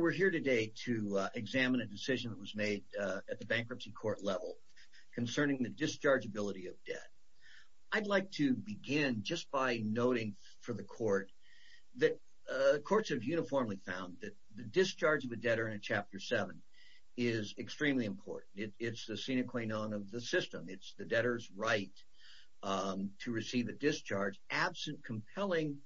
We're here today to examine a decision that was made at the Bankruptcy Court level concerning the dischargeability of debt. I'd like to begin just by noting for the Court that the Courts have uniformly found that the discharge of a debtor in Chapter 7 is extremely important. It's the sine qua non of the system, it's the debtor's right to receive a discharge absent compelling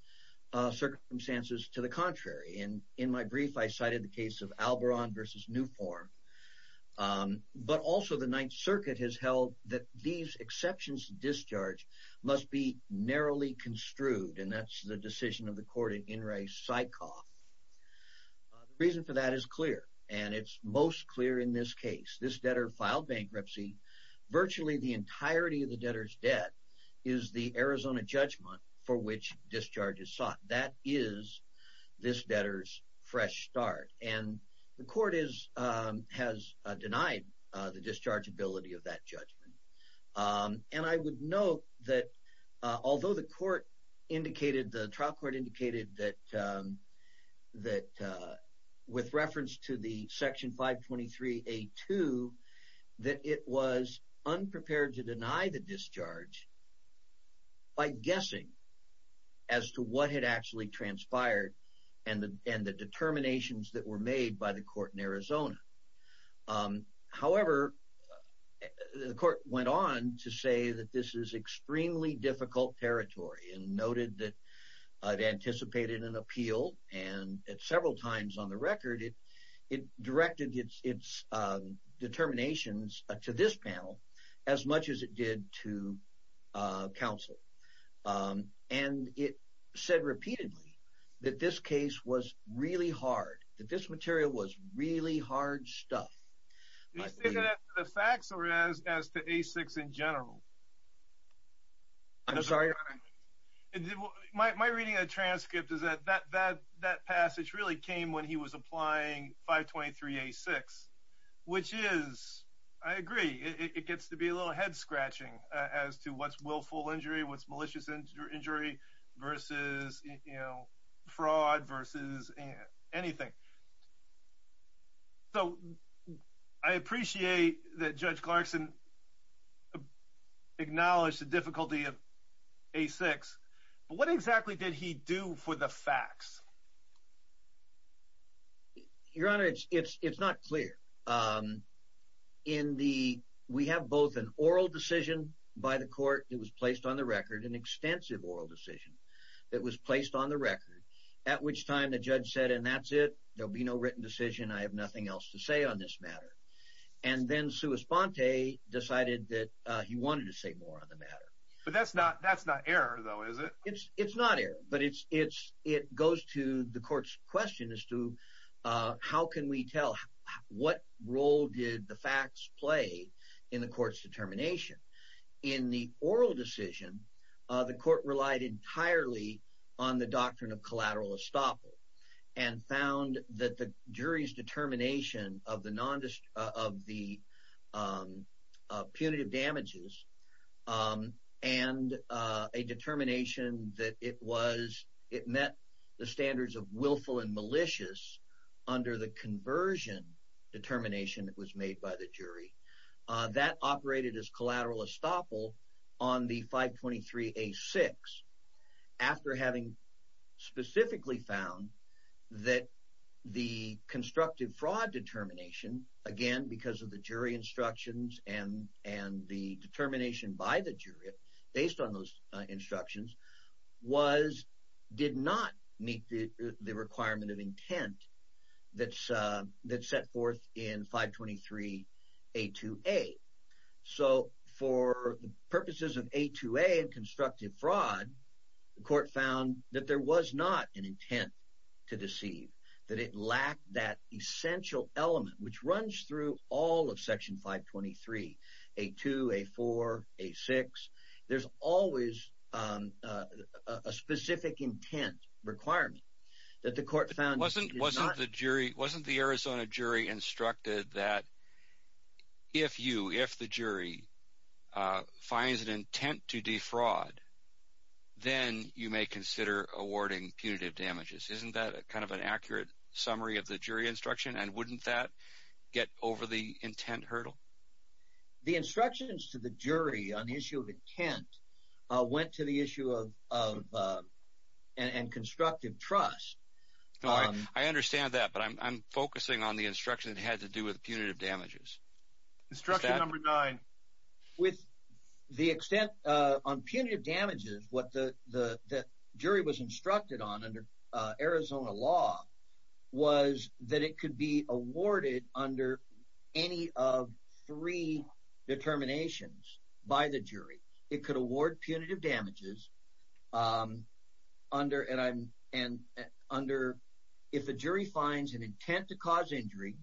circumstances to the contrary. In my brief, I cited the case of Alboron v. Newform, but also the Ninth Circuit has held that these exceptions to discharge must be narrowly construed, and that's the decision of the Court in In re. Syckhoff. The reason for that is clear, and it's most clear in this case. This debtor filed bankruptcy, virtually the entirety of the debtor's debt is the Arizona judgment for which discharge is sought. That is this debtor's fresh start, and the Court has denied the dischargeability of that judgment. And I would note that although the Court indicated, the trial Court indicated that with reference to the Section 523A2, that it was unprepared to deny the discharge by guessing as to what had actually transpired, and the determinations that were made by the Court in Arizona. However, the Court went on to say that this is extremely difficult territory, and noted that it anticipated an appeal, and at several times on the record, it directed its determinations to this panel as much as it did to counsel. And it said repeatedly that this case was really hard, that this material was really hard stuff. Do you say that to the facts, or as to A6 in general? I'm sorry? My reading of the transcript is that that passage really came when he was applying 523A6, which is, I agree, it gets to be a little head-scratching as to what's willful injury, what's malicious injury, versus, you know, fraud, versus anything. So, I appreciate that Judge Clarkson acknowledged the difficulty of A6, but what exactly did he do for the facts? Your Honor, it's not clear. In the, we have both an oral decision by the Court that was placed on the record, an extensive oral decision that was placed on the record, at which time the judge said, and that's it, there'll be no written decision, I have nothing else to say on this matter. And then Sua Sponte decided that he wanted to say more on the matter. But that's not error, though, is it? It's not error, but it goes to the Court's question as to how can we tell, what role did the facts play in the Court's determination? In the oral decision, the Court relied entirely on the doctrine of collateral estoppel and found that the jury's determination of the punitive damages and a determination that it was, it met the standards of willful and malicious under the conversion determination that was made by the jury. That operated as collateral estoppel on the 523A6, after having specifically found that the constructive fraud determination, again, because of the jury instructions and the determination by the jury, based on those instructions, was, did not meet the requirement of intent that's set forth in 523A2A. So for purposes of A2A and constructive fraud, the Court found that there was not an intent to deceive, that it lacked that essential element, which runs through all of Section 523, A2, A4, A6, there's always a specific intent requirement that the Court found Wasn't the Arizona jury instructed that if you, if the jury, finds an intent to defraud, then you may consider awarding punitive damages. Isn't that kind of an accurate summary of the jury instruction? And wouldn't that get over the intent hurdle? The instructions to the jury on the issue of intent went to the issue of, and constructive trust. I understand that, but I'm focusing on the instruction that had to do with punitive damages. Instruction number nine. With the extent on punitive damages, what the jury was instructed on under Arizona law was that it could be awarded under any of three determinations by the jury. It could award punitive damages under, if the jury finds an intent to cause injury,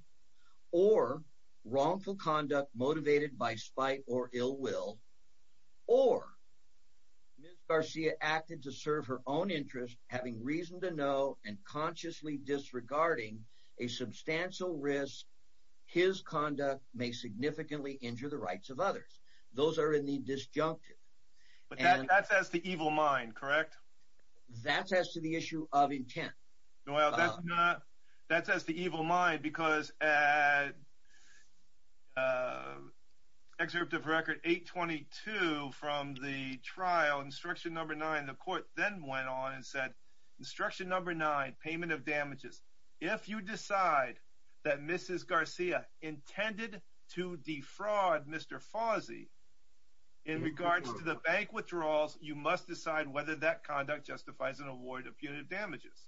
or wrongful conduct motivated by spite or ill will, or Ms. Garcia acted to serve her own interest, having reason to know, and consciously disregarding a substantial risk his conduct may significantly injure the rights of others. Those are in the disjunctive. But that's as to evil mind, correct? That's as to the issue of intent. Well, that's as to evil mind, because at Excerpt of Record 822 from the trial, instruction number nine, the court then went on and said, instruction number nine, payment of damages, if you decide that Mrs. Garcia intended to defraud Mr. Fauzi in regards to the bank withdrawals, you must decide whether that conduct justifies an award of punitive damages.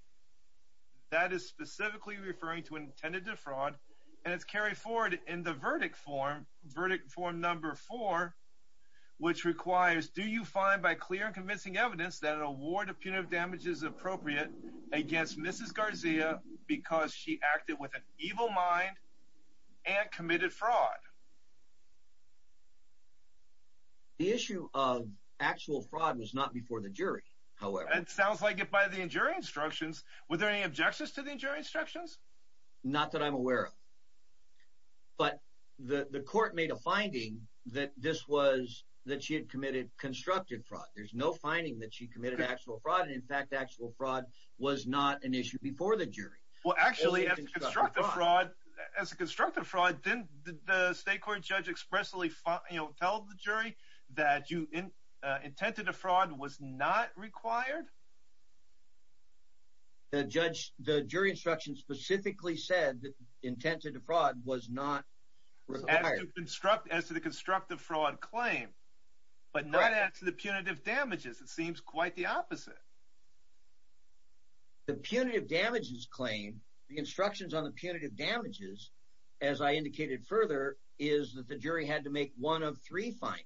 That is specifically referring to intended defraud, and it's carried forward in the verdict form, verdict form number four, which requires, do you find by clear and convincing evidence that an award of punitive damages is appropriate against Mrs. Garcia because she acted with an evil mind and committed fraud? The issue of actual fraud was not before the jury, however. It sounds like if by the jury instructions, were there any objections to the jury instructions? Not that I'm aware of. But the court made a finding that this was, that she had committed constructive fraud. There's no finding that she committed actual fraud, and in fact, actual fraud was not an issue before the jury. Well, actually, as a constructive fraud, didn't the state court judge expressly tell the jury that intent to defraud was not required? The jury instructions specifically said that intent to defraud was not required. As to the constructive fraud claim, but not as to the punitive damages. It seems quite the opposite. The punitive damages claim, the instructions on the punitive damages, as I indicated further, is that the jury had to make one of three findings.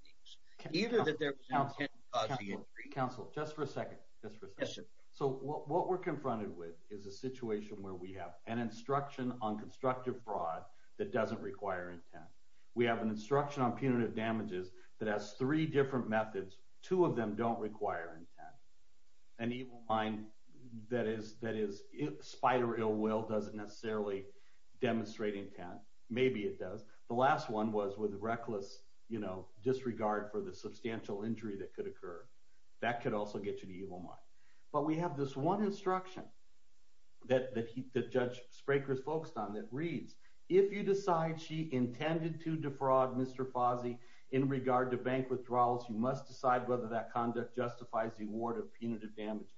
Either that there was intent to cause the injury. Counsel, just for a second. So what we're confronted with is a situation where we have an instruction on constructive fraud that doesn't require intent. We have an instruction on punitive damages that has three different methods. Two of them don't require intent. An evil mind that is spite or ill will doesn't necessarily demonstrate intent. Maybe it does. The last one was with reckless disregard for the substantial injury that could occur. That could also get you the evil mind. But we have this one instruction that Judge Spraker's focused on that reads, if you decide she intended to defraud Mr. Fazi in regard to bank withdrawals, you must decide whether that conduct justifies the award of punitive damages.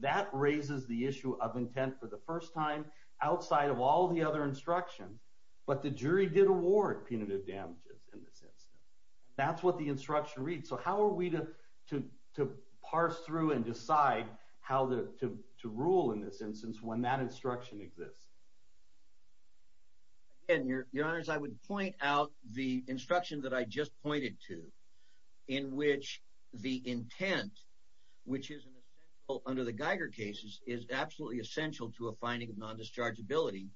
That raises the issue of intent for the first time outside of all the other instructions. But the jury did award punitive damages in this instance. That's what the instruction reads. So how are we to parse through and decide how to rule in this instance when that instruction exists? Again, Your Honors, I would point out the instruction that I just pointed to in which the intent, which is an essential under the Geiger cases, is absolutely essential to a finding of non-dischargeability.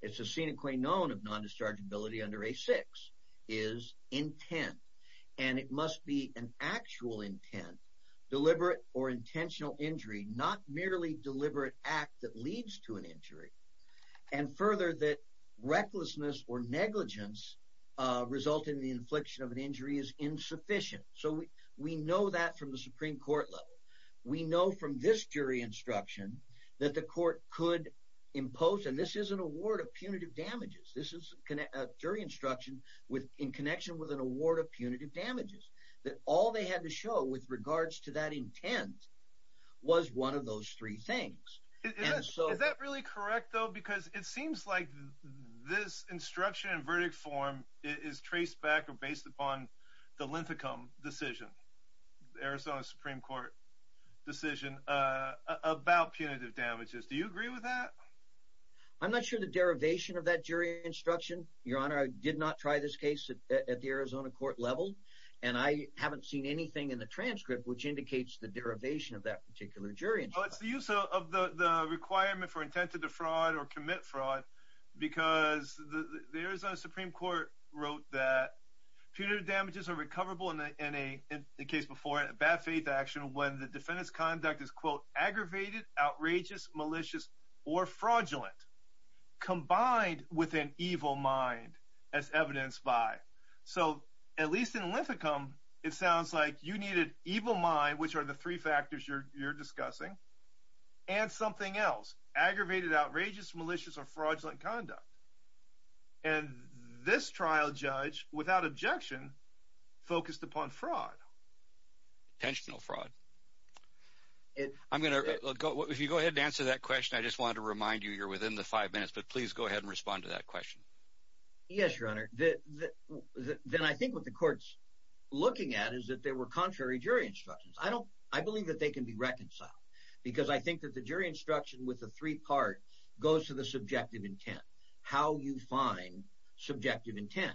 It's a sine qua non of non-dischargeability under A6 is intent. And it must be an actual intent, deliberate or intentional injury, not merely deliberate act that leads to an injury. And further, that recklessness or negligence resulting in the infliction of an injury is insufficient. So we know that from the Supreme Court level. We know from this jury instruction that the court could impose, and this is an award of punitive damages. This is a jury instruction in connection with an award of punitive damages. That all they had to show with regards to that intent was one of those three things. Is that really correct, though? Because it seems like this instruction and verdict form is traced back or based upon the Linthicum decision, Arizona Supreme Court decision, about punitive damages. Do you agree with that? I'm not sure of the derivation of that jury instruction, Your Honor. I did not try this case at the Arizona court level. And I haven't seen anything in the transcript which indicates the derivation of that particular jury instruction. Well, it's the use of the requirement for intent to defraud or commit fraud because the Arizona Supreme Court wrote that punitive damages are recoverable in a case before it, a bad faith action, when the defendant's conduct is, quote, aggravated, outrageous, malicious, or fraudulent, combined with an evil mind, as evidenced by. So at least in Linthicum, it sounds like you needed evil mind, which are the three factors you're discussing, and something else, aggravated, outrageous, malicious, or fraudulent conduct. And this trial judge, without objection, focused upon fraud. Intentional fraud. If you go ahead and answer that question, I just wanted to remind you you're within the five minutes, but please go ahead and respond to that question. Yes, Your Honor. Then I think what the court's looking at is that there were contrary jury instructions. I believe that they can be reconciled because I think that the jury instruction with the three part goes to the subjective intent, how you find subjective intent.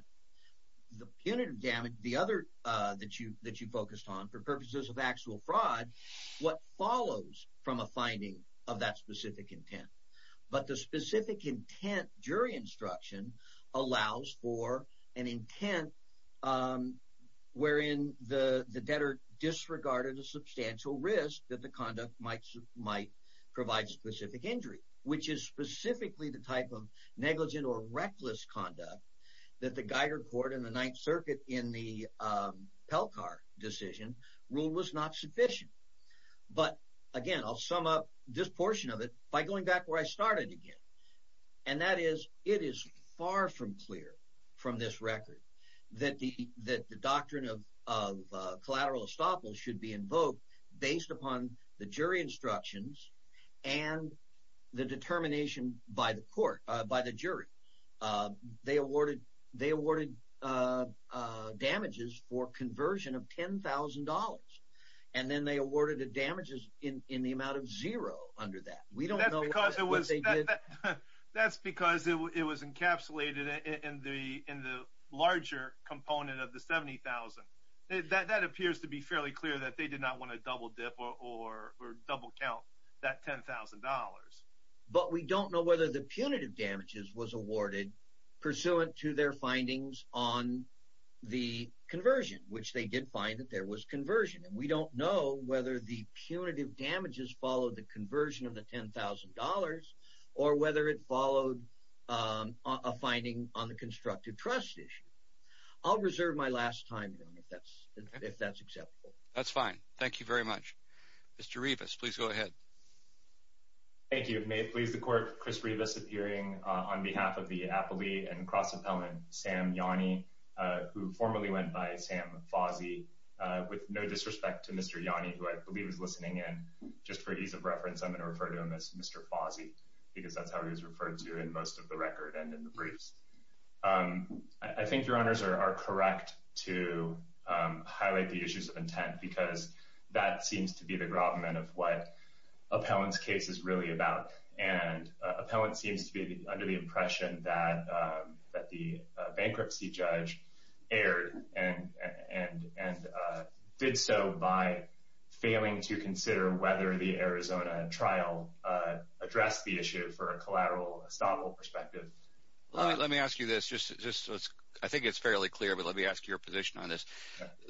The punitive damage, the other that you focused on, for purposes of actual fraud, what follows from a finding of that specific intent? But the specific intent jury instruction allows for an intent wherein the debtor disregarded a substantial risk that the conduct might provide specific injury, which is specifically the type of negligent or reckless conduct that the Geiger Court and the Ninth Circuit in the Pelcar decision ruled was not sufficient. But again, I'll sum up this portion of it by going back where I started again. And that is, it is far from clear from this record that the doctrine of collateral estoppel should be invoked based upon the jury instructions and the determination by the jury. They awarded damages for conversion of $10,000. And then they awarded the damages in the amount of zero under that. We don't know what they did. That's because it was encapsulated in the larger component of the $70,000. That appears to be fairly clear that they did not want to double dip or double count that $10,000. But we don't know whether the punitive damages was awarded pursuant to their findings on the conversion, which they did find that there was conversion. And we don't know whether the punitive damages followed the conversion of the $10,000 or whether it followed a finding on the constructive trust issue. I'll reserve my last time if that's acceptable. That's fine. Thank you very much. Mr. Revis, please go ahead. Thank you. May it please the Court, Chris Revis appearing on behalf of the appellee and cross-appellant, Sam Yanni, who formerly went by Sam Fozzi, with no disrespect to Mr. Yanni, who I believe is listening in. Just for ease of reference, I'm going to refer to him as Mr. Fozzi because that's how he was referred to in most of the record and in the briefs. I think Your Honors are correct to highlight the issues of intent because that seems to be the gravamen of what appellant's case is really about. And appellant seems to be under the impression that the bankruptcy judge erred and did so by failing to consider whether the Arizona trial addressed the issue for a collateral estoppel perspective. Let me ask you this. I think it's fairly clear, but let me ask your position on this.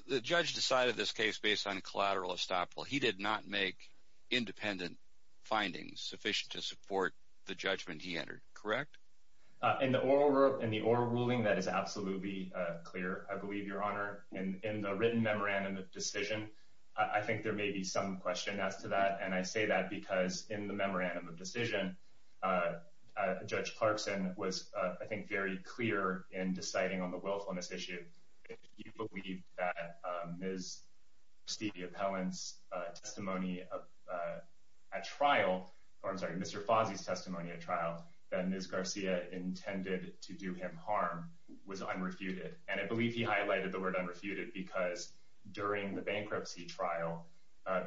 The judge decided this case based on collateral estoppel. He did not make independent findings sufficient to support the judgment he entered, correct? In the oral ruling, that is absolutely clear, I believe, Your Honor. In the written memorandum of decision, I think there may be some question as to that, and I say that because in the memorandum of decision, Judge Clarkson was, I think, very clear in deciding on the willfulness issue. Do you believe that Ms. Garcia's testimony at trial, or I'm sorry, Mr. Fozzi's testimony at trial, that Ms. Garcia intended to do him harm was unrefuted? And I believe he highlighted the word unrefuted because during the bankruptcy trial,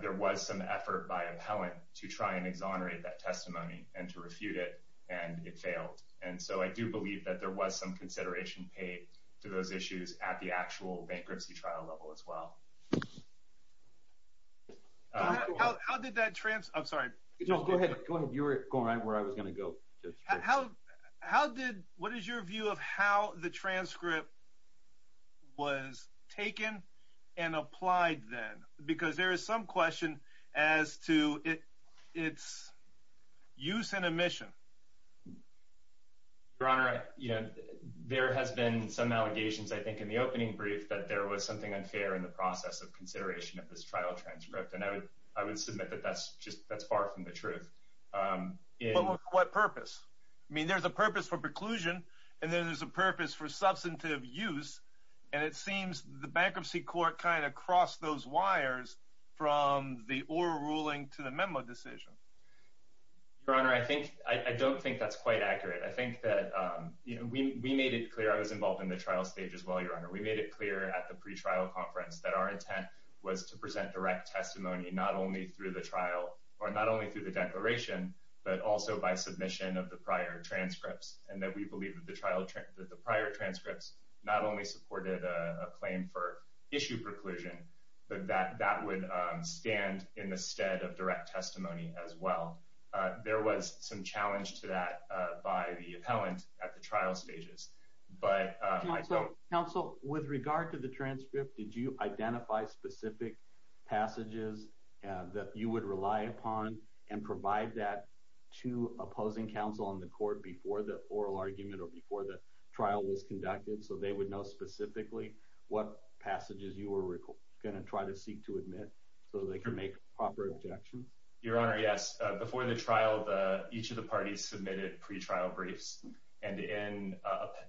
there was some effort by appellant to try and exonerate that testimony and to refute it, and it failed. And so I do believe that there was some consideration paid to those issues at the actual bankruptcy trial level as well. How did that trans—I'm sorry. Go ahead. You were going right where I was going to go. How did—what is your view of how the transcript was taken and applied then? Because there is some question as to its use and omission. Your Honor, you know, there has been some allegations, I think, in the opening brief that there was something unfair in the process of consideration of this trial transcript, and I would submit that that's just—that's far from the truth. But what purpose? I mean, there's a purpose for preclusion, and then there's a purpose for substantive use, and it seems the bankruptcy court kind of crossed those wires from the oral ruling to the memo decision. Your Honor, I think—I don't think that's quite accurate. I think that, you know, we made it clear—I was involved in the trial stage as well, Your Honor. We made it clear at the pretrial conference that our intent was to present direct testimony not only through the trial or not only through the declaration, but also by submission of the prior transcripts, and that we believe that the prior transcripts not only supported a claim for issue preclusion, but that that would stand in the stead of direct testimony as well. There was some challenge to that by the appellant at the trial stages, but— Counsel, with regard to the transcript, did you identify specific passages that you would rely upon and provide that to opposing counsel on the court before the oral argument or before the trial was conducted so they would know specifically what passages you were going to try to seek to admit so they could make proper objections? Your Honor, yes. Before the trial, each of the parties submitted pretrial briefs, and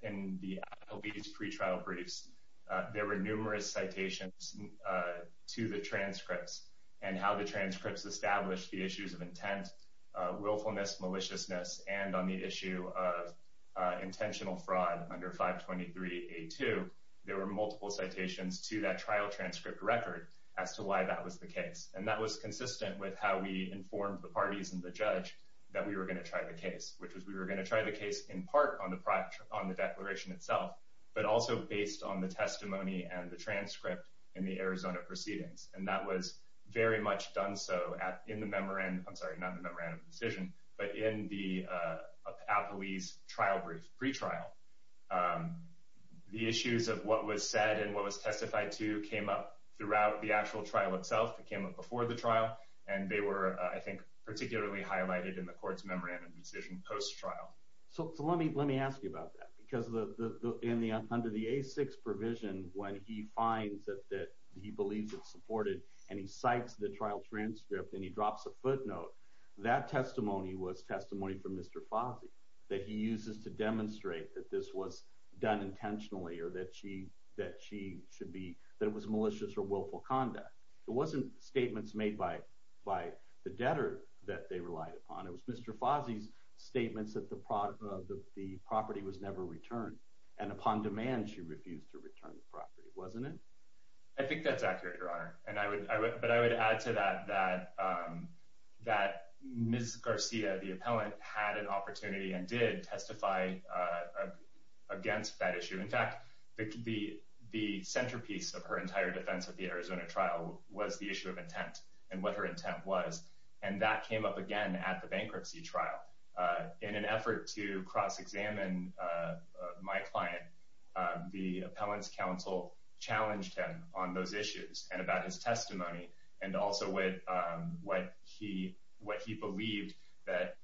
in the appellate's pretrial briefs, there were numerous citations to the transcripts and how the transcripts established the issues of intent, willfulness, maliciousness, and on the issue of intentional fraud under 523A2, there were multiple citations to that trial transcript record as to why that was the case. And that was consistent with how we informed the parties and the judge that we were going to try the case, which was we were going to try the case in part on the declaration itself, but also based on the testimony and the transcript in the Arizona proceedings. And that was very much done so in the memorandum, I'm sorry, not in the memorandum of decision, but in the appellate's trial brief, pretrial. The issues of what was said and what was testified to came up throughout the actual trial itself. It came up before the trial, and they were, I think, particularly highlighted in the court's memorandum of decision post-trial. So let me ask you about that, because under the A6 provision, when he finds that he believes it's supported, and he cites the trial transcript, and he drops a footnote, that testimony was testimony from Mr. Fazi that he uses to demonstrate that this was done intentionally or that she should be, that it was malicious or willful conduct. It wasn't statements made by the debtor that they relied upon. It was Mr. Fazi's statements that the property was never returned, and upon demand she refused to return the property, wasn't it? I think that's accurate, Your Honor, but I would add to that that Ms. Garcia, the appellant, had an opportunity and did testify against that issue. In fact, the centerpiece of her entire defense of the Arizona trial was the issue of intent and what her intent was, and that came up again at the bankruptcy trial. In an effort to cross-examine my client, the appellant's counsel challenged him on those issues and about his testimony and also what he believed that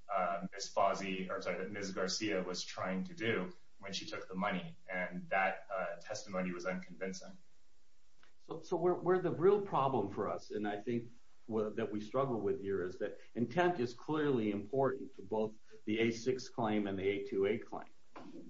Ms. Garcia was trying to do when she took the money, and that testimony was unconvincing. So where the real problem for us, and I think that we struggle with here, is that intent is clearly important to both the A6 claim and the A2A claim,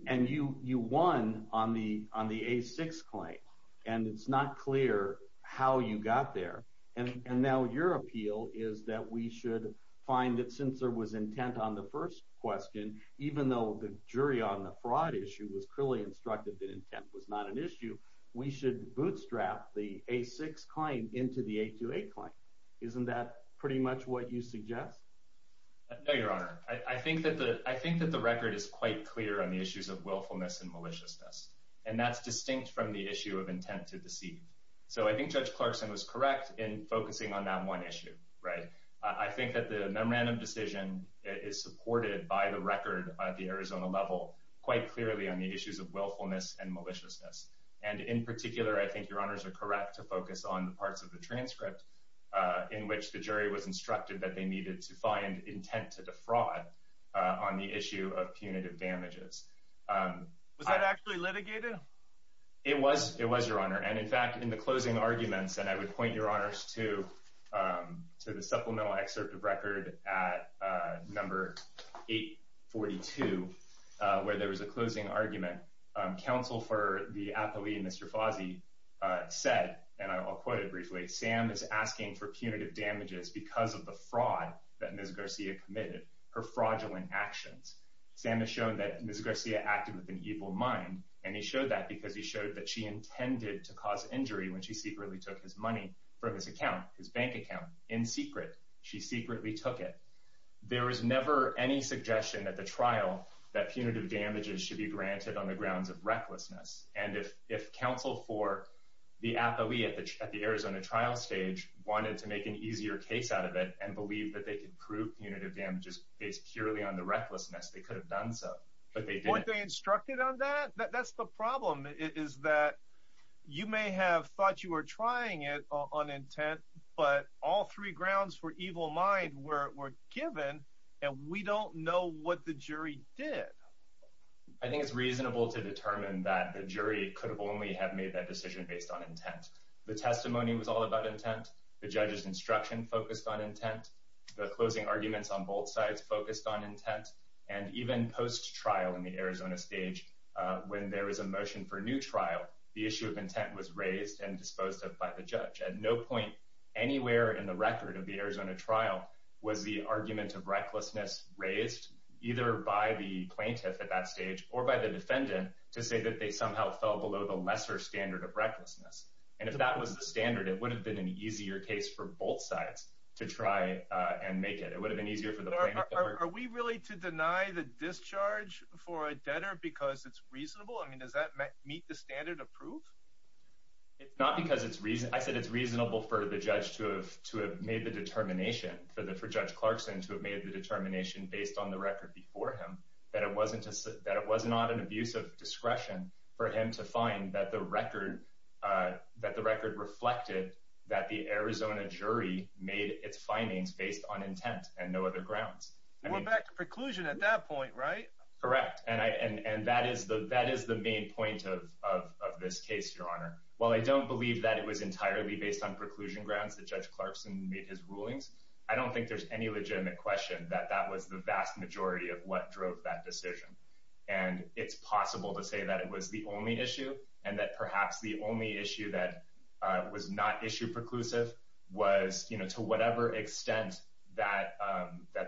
and you won on the A6 claim, and it's not clear how you got there, and now your appeal is that we should find that since there was intent on the first question, even though the jury on the fraud issue was clearly instructed that intent was not an issue, we should bootstrap the A6 claim into the A2A claim. Isn't that pretty much what you suggest? No, Your Honor. I think that the record is quite clear on the issues of willfulness and maliciousness, and that's distinct from the issue of intent to deceive. So I think Judge Clarkson was correct in focusing on that one issue. I think that the memorandum decision is supported by the record at the Arizona level quite clearly on the issues of willfulness and maliciousness, and in particular I think Your Honors are correct to focus on parts of the transcript in which the jury was instructed that they needed to find intent to defraud on the issue of punitive damages. Was that actually litigated? It was, Your Honor, and in fact in the closing arguments, and I would point Your Honors to the supplemental excerpt of record at number 842, where there was a closing argument. Counsel for the athlete, Mr. Fozzi, said, and I'll quote it briefly, Sam is asking for punitive damages because of the fraud that Ms. Garcia committed, her fraudulent actions. Sam has shown that Ms. Garcia acted with an evil mind, and he showed that because he showed that she intended to cause injury when she secretly took his money from his account, his bank account, in secret. She secretly took it. There was never any suggestion at the trial that punitive damages should be granted on the grounds of recklessness, and if counsel for the athlete at the Arizona trial stage wanted to make an easier case out of it and believe that they could prove punitive damages based purely on the recklessness, they could have done so. But they didn't. Weren't they instructed on that? That's the problem, is that you may have thought you were trying it on intent, but all three grounds for evil mind were given, and we don't know what the jury did. I think it's reasonable to determine that the jury could only have made that decision based on intent. The testimony was all about intent. The judge's instruction focused on intent. The closing arguments on both sides focused on intent. And even post-trial in the Arizona stage, when there was a motion for a new trial, the issue of intent was raised and disposed of by the judge. At no point anywhere in the record of the Arizona trial was the argument of recklessness raised, either by the plaintiff at that stage or by the defendant, to say that they somehow fell below the lesser standard of recklessness. And if that was the standard, it would have been an easier case for both sides to try and make it. It would have been easier for the plaintiff. Are we really to deny the discharge for a debtor because it's reasonable? I mean, does that meet the standard approved? It's not because it's reasonable. I said it's reasonable for the judge to have made the determination, for Judge Clarkson to have made the determination based on the record before him, that it was not an abuse of discretion for him to find that the record reflected that the Arizona jury made its findings based on intent and no other grounds. We're back to preclusion at that point, right? Correct. And that is the main point of this case, Your Honor. While I don't believe that it was entirely based on preclusion grounds that Judge Clarkson made his rulings, I don't think there's any legitimate question that that was the vast majority of what drove that decision. And it's possible to say that it was the only issue and that perhaps the only issue that was not issue preclusive was, you know, to whatever extent that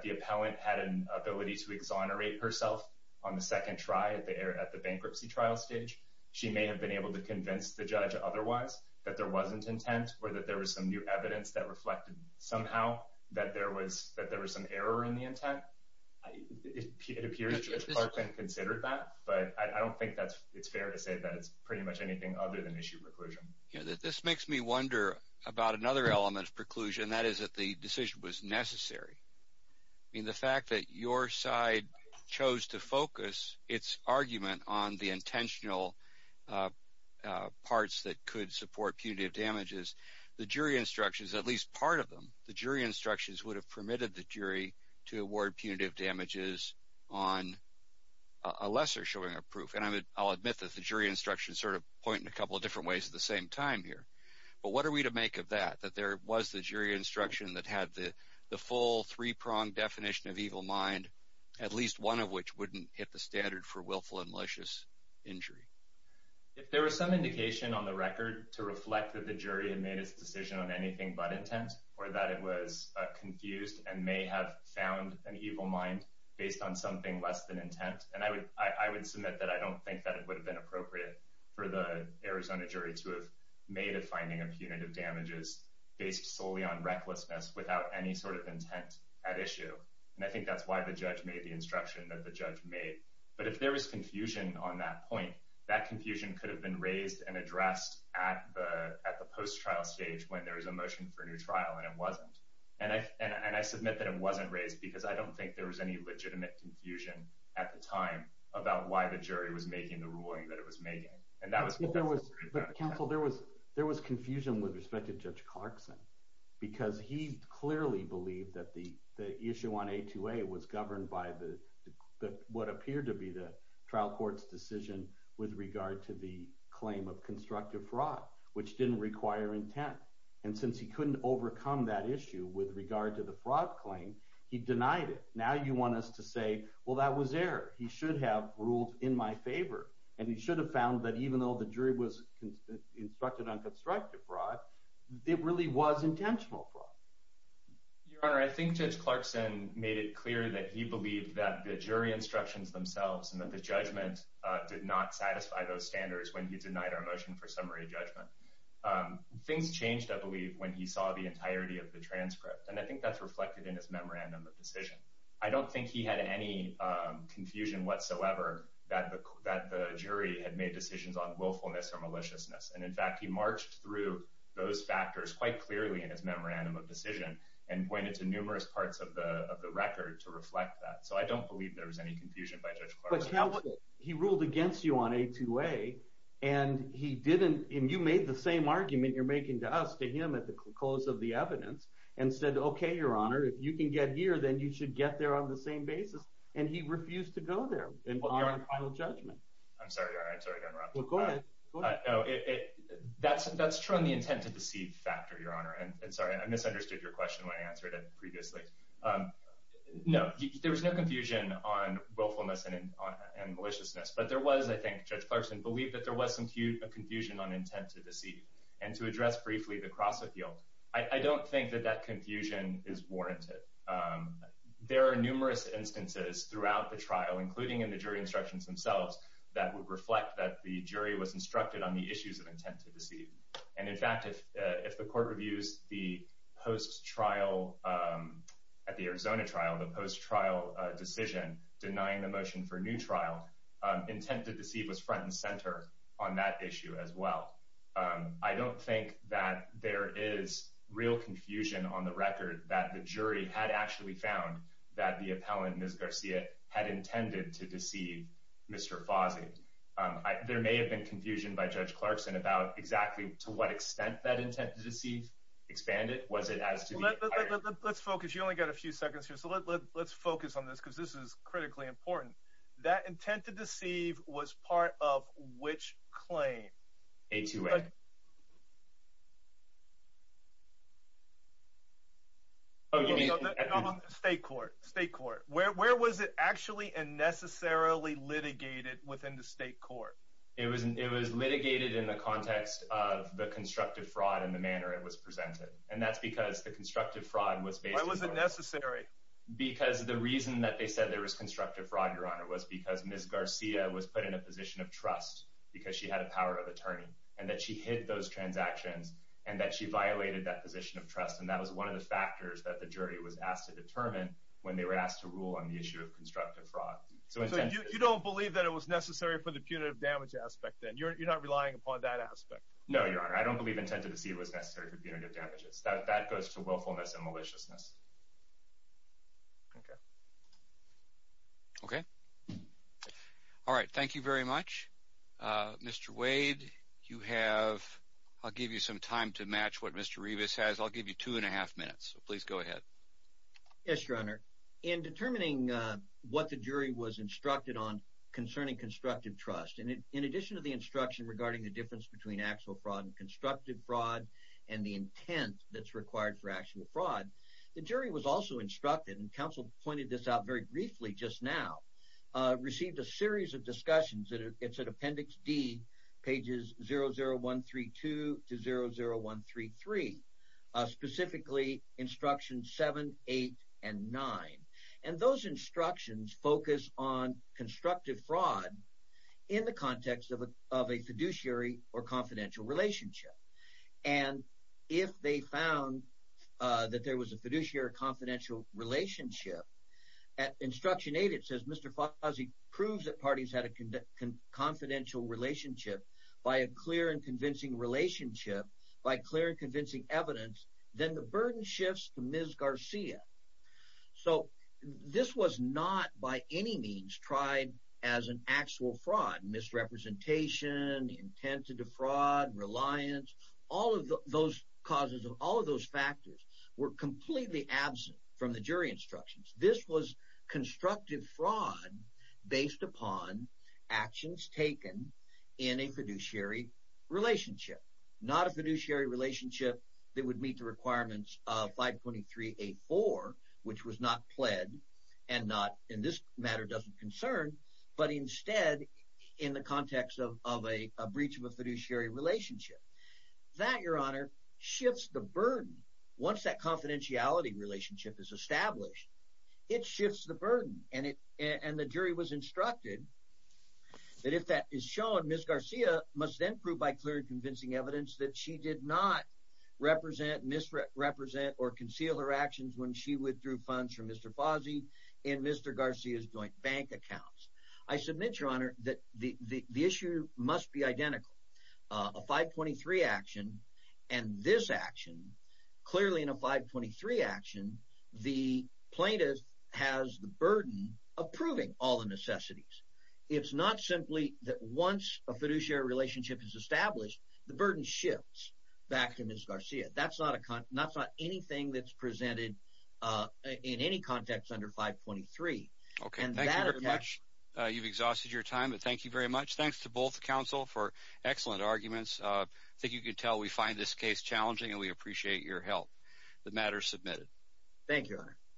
the appellant had an ability to exonerate herself on the second try at the bankruptcy trial stage. She may have been able to convince the judge otherwise that there wasn't intent or that there was some new evidence that reflected somehow that there was some error in the intent. It appears Judge Clarkson considered that, but I don't think it's fair to say that it's pretty much anything other than issue preclusion. Yeah, this makes me wonder about another element of preclusion, and that is that the decision was necessary. I mean, the fact that your side chose to focus its argument on the intentional parts that could support punitive damages, the jury instructions, at least part of them, the jury instructions would have permitted the jury to award punitive damages on a lesser showing of proof. And I'll admit that the jury instructions sort of point in a couple of different ways at the same time here. But what are we to make of that, that there was the jury instruction that had the full three-pronged definition of evil mind, at least one of which wouldn't hit the standard for willful and malicious injury? If there was some indication on the record to reflect that the jury had made its decision on anything but intent or that it was confused and may have found an evil mind based on something less than intent, and I would submit that I don't think that it would have been appropriate for the Arizona jury to have made a finding of punitive damages based solely on recklessness without any sort of intent at issue. And I think that's why the judge made the instruction that the judge made. But if there was confusion on that point, that confusion could have been raised and addressed at the post-trial stage when there was a motion for a new trial and it wasn't. And I submit that it wasn't raised because I don't think there was any legitimate confusion at the time about why the jury was making the ruling that it was making. But, counsel, there was confusion with respect to Judge Clarkson because he clearly believed that the issue on A2A was governed by what appeared to be the trial court's decision with regard to the claim of constructive fraud, which didn't require intent. And since he couldn't overcome that issue with regard to the fraud claim, he denied it. Now you want us to say, well, that was error. He should have ruled in my favor. And he should have found that even though the jury was instructed on constructive fraud, it really was intentional fraud. Your Honor, I think Judge Clarkson made it clear that he believed that the jury instructions themselves and that the judgment did not satisfy those standards when he denied our motion for summary judgment. Things changed, I believe, when he saw the entirety of the transcript, and I think that's reflected in his memorandum of decision. I don't think he had any confusion whatsoever that the jury had made decisions on willfulness or maliciousness. And, in fact, he marched through those factors quite clearly in his memorandum of decision and pointed to numerous parts of the record to reflect that. So I don't believe there was any confusion by Judge Clarkson. But he ruled against you on A2A, and you made the same argument you're making to us, to him, at the close of the evidence, and said, okay, Your Honor, if you can get here, then you should get there on the same basis. And he refused to go there in honor of final judgment. I'm sorry, Your Honor. I'm sorry to interrupt. Well, go ahead. No, that's true on the intent to deceive factor, Your Honor. And, sorry, I misunderstood your question when I answered it previously. No, there was no confusion on willfulness and maliciousness. But there was, I think, Judge Clarkson believed that there was some confusion on intent to deceive. And to address briefly the cross-appeal, I don't think that that confusion is warranted. There are numerous instances throughout the trial, including in the jury instructions themselves, that would reflect that the jury was instructed on the issues of intent to deceive. And, in fact, if the court reviews the post-trial, at the Arizona trial, the post-trial decision denying the motion for a new trial, intent to deceive was front and center on that issue as well. I don't think that there is real confusion on the record that the jury had actually found that the appellant, Ms. Garcia, had intended to deceive Mr. Fozzie. There may have been confusion by Judge Clarkson about exactly to what extent that intent to deceive expanded. Was it as to the— Let's focus. You only got a few seconds here. So let's focus on this because this is critically important. That intent to deceive was part of which claim? A2A. State court. State court. Where was it actually and necessarily litigated within the state court? It was litigated in the context of the constructive fraud and the manner it was presented. And that's because the constructive fraud was based on— Why was it necessary? Because the reason that they said there was constructive fraud, Your Honor, was because Ms. Garcia was put in a position of trust because she had a power of attorney and that she hid those transactions and that she violated that position of trust. And that was one of the factors that the jury was asked to determine when they were asked to rule on the issue of constructive fraud. So you don't believe that it was necessary for the punitive damage aspect then? You're not relying upon that aspect? No, Your Honor. I don't believe intent to deceive was necessary for punitive damages. That goes to willfulness and maliciousness. Okay. All right. Thank you very much, Mr. Wade. You have—I'll give you some time to match what Mr. Revis has. I'll give you two and a half minutes, so please go ahead. Yes, Your Honor. In determining what the jury was instructed on concerning constructive trust, in addition to the instruction regarding the difference between actual fraud and constructive fraud and the intent that's required for actual fraud, the jury was also instructed, and counsel pointed this out very briefly just now, received a series of discussions. It's at Appendix D, pages 00132 to 00133, specifically Instructions 7, 8, and 9. And those instructions focus on constructive fraud in the context of a fiduciary or confidential relationship. And if they found that there was a fiduciary or confidential relationship, at Instruction 8 it says, Mr. Fossey proves that parties had a confidential relationship by a clear and convincing relationship, by clear and convincing evidence, then the burden shifts to Ms. Garcia. So this was not by any means tried as an actual fraud. Misrepresentation, intent to defraud, reliance, all of those causes, all of those factors were completely absent from the jury instructions. This was constructive fraud based upon actions taken in a fiduciary relationship, not a fiduciary relationship that would meet the requirements of 523.8.4, which was not pled, and this matter doesn't concern, but instead in the context of a breach of a fiduciary relationship. That, Your Honor, shifts the burden. Once that confidentiality relationship is established, it shifts the burden. And the jury was instructed that if that is shown, Ms. Garcia must then prove by clear and convincing evidence that she did not represent, misrepresent, or conceal her actions when she withdrew funds from Mr. Fossey and Mr. Garcia's joint bank accounts. I submit, Your Honor, that the issue must be identical. A 523 action and this action, clearly in a 523 action, the plaintiff has the burden of proving all the necessities. It's not simply that once a fiduciary relationship is established, the burden shifts back to Ms. Garcia. That's not anything that's presented in any context under 523. And that attacks… Excellent arguments. I think you can tell we find this case challenging and we appreciate your help. The matter is submitted. Thank you, Your Honor.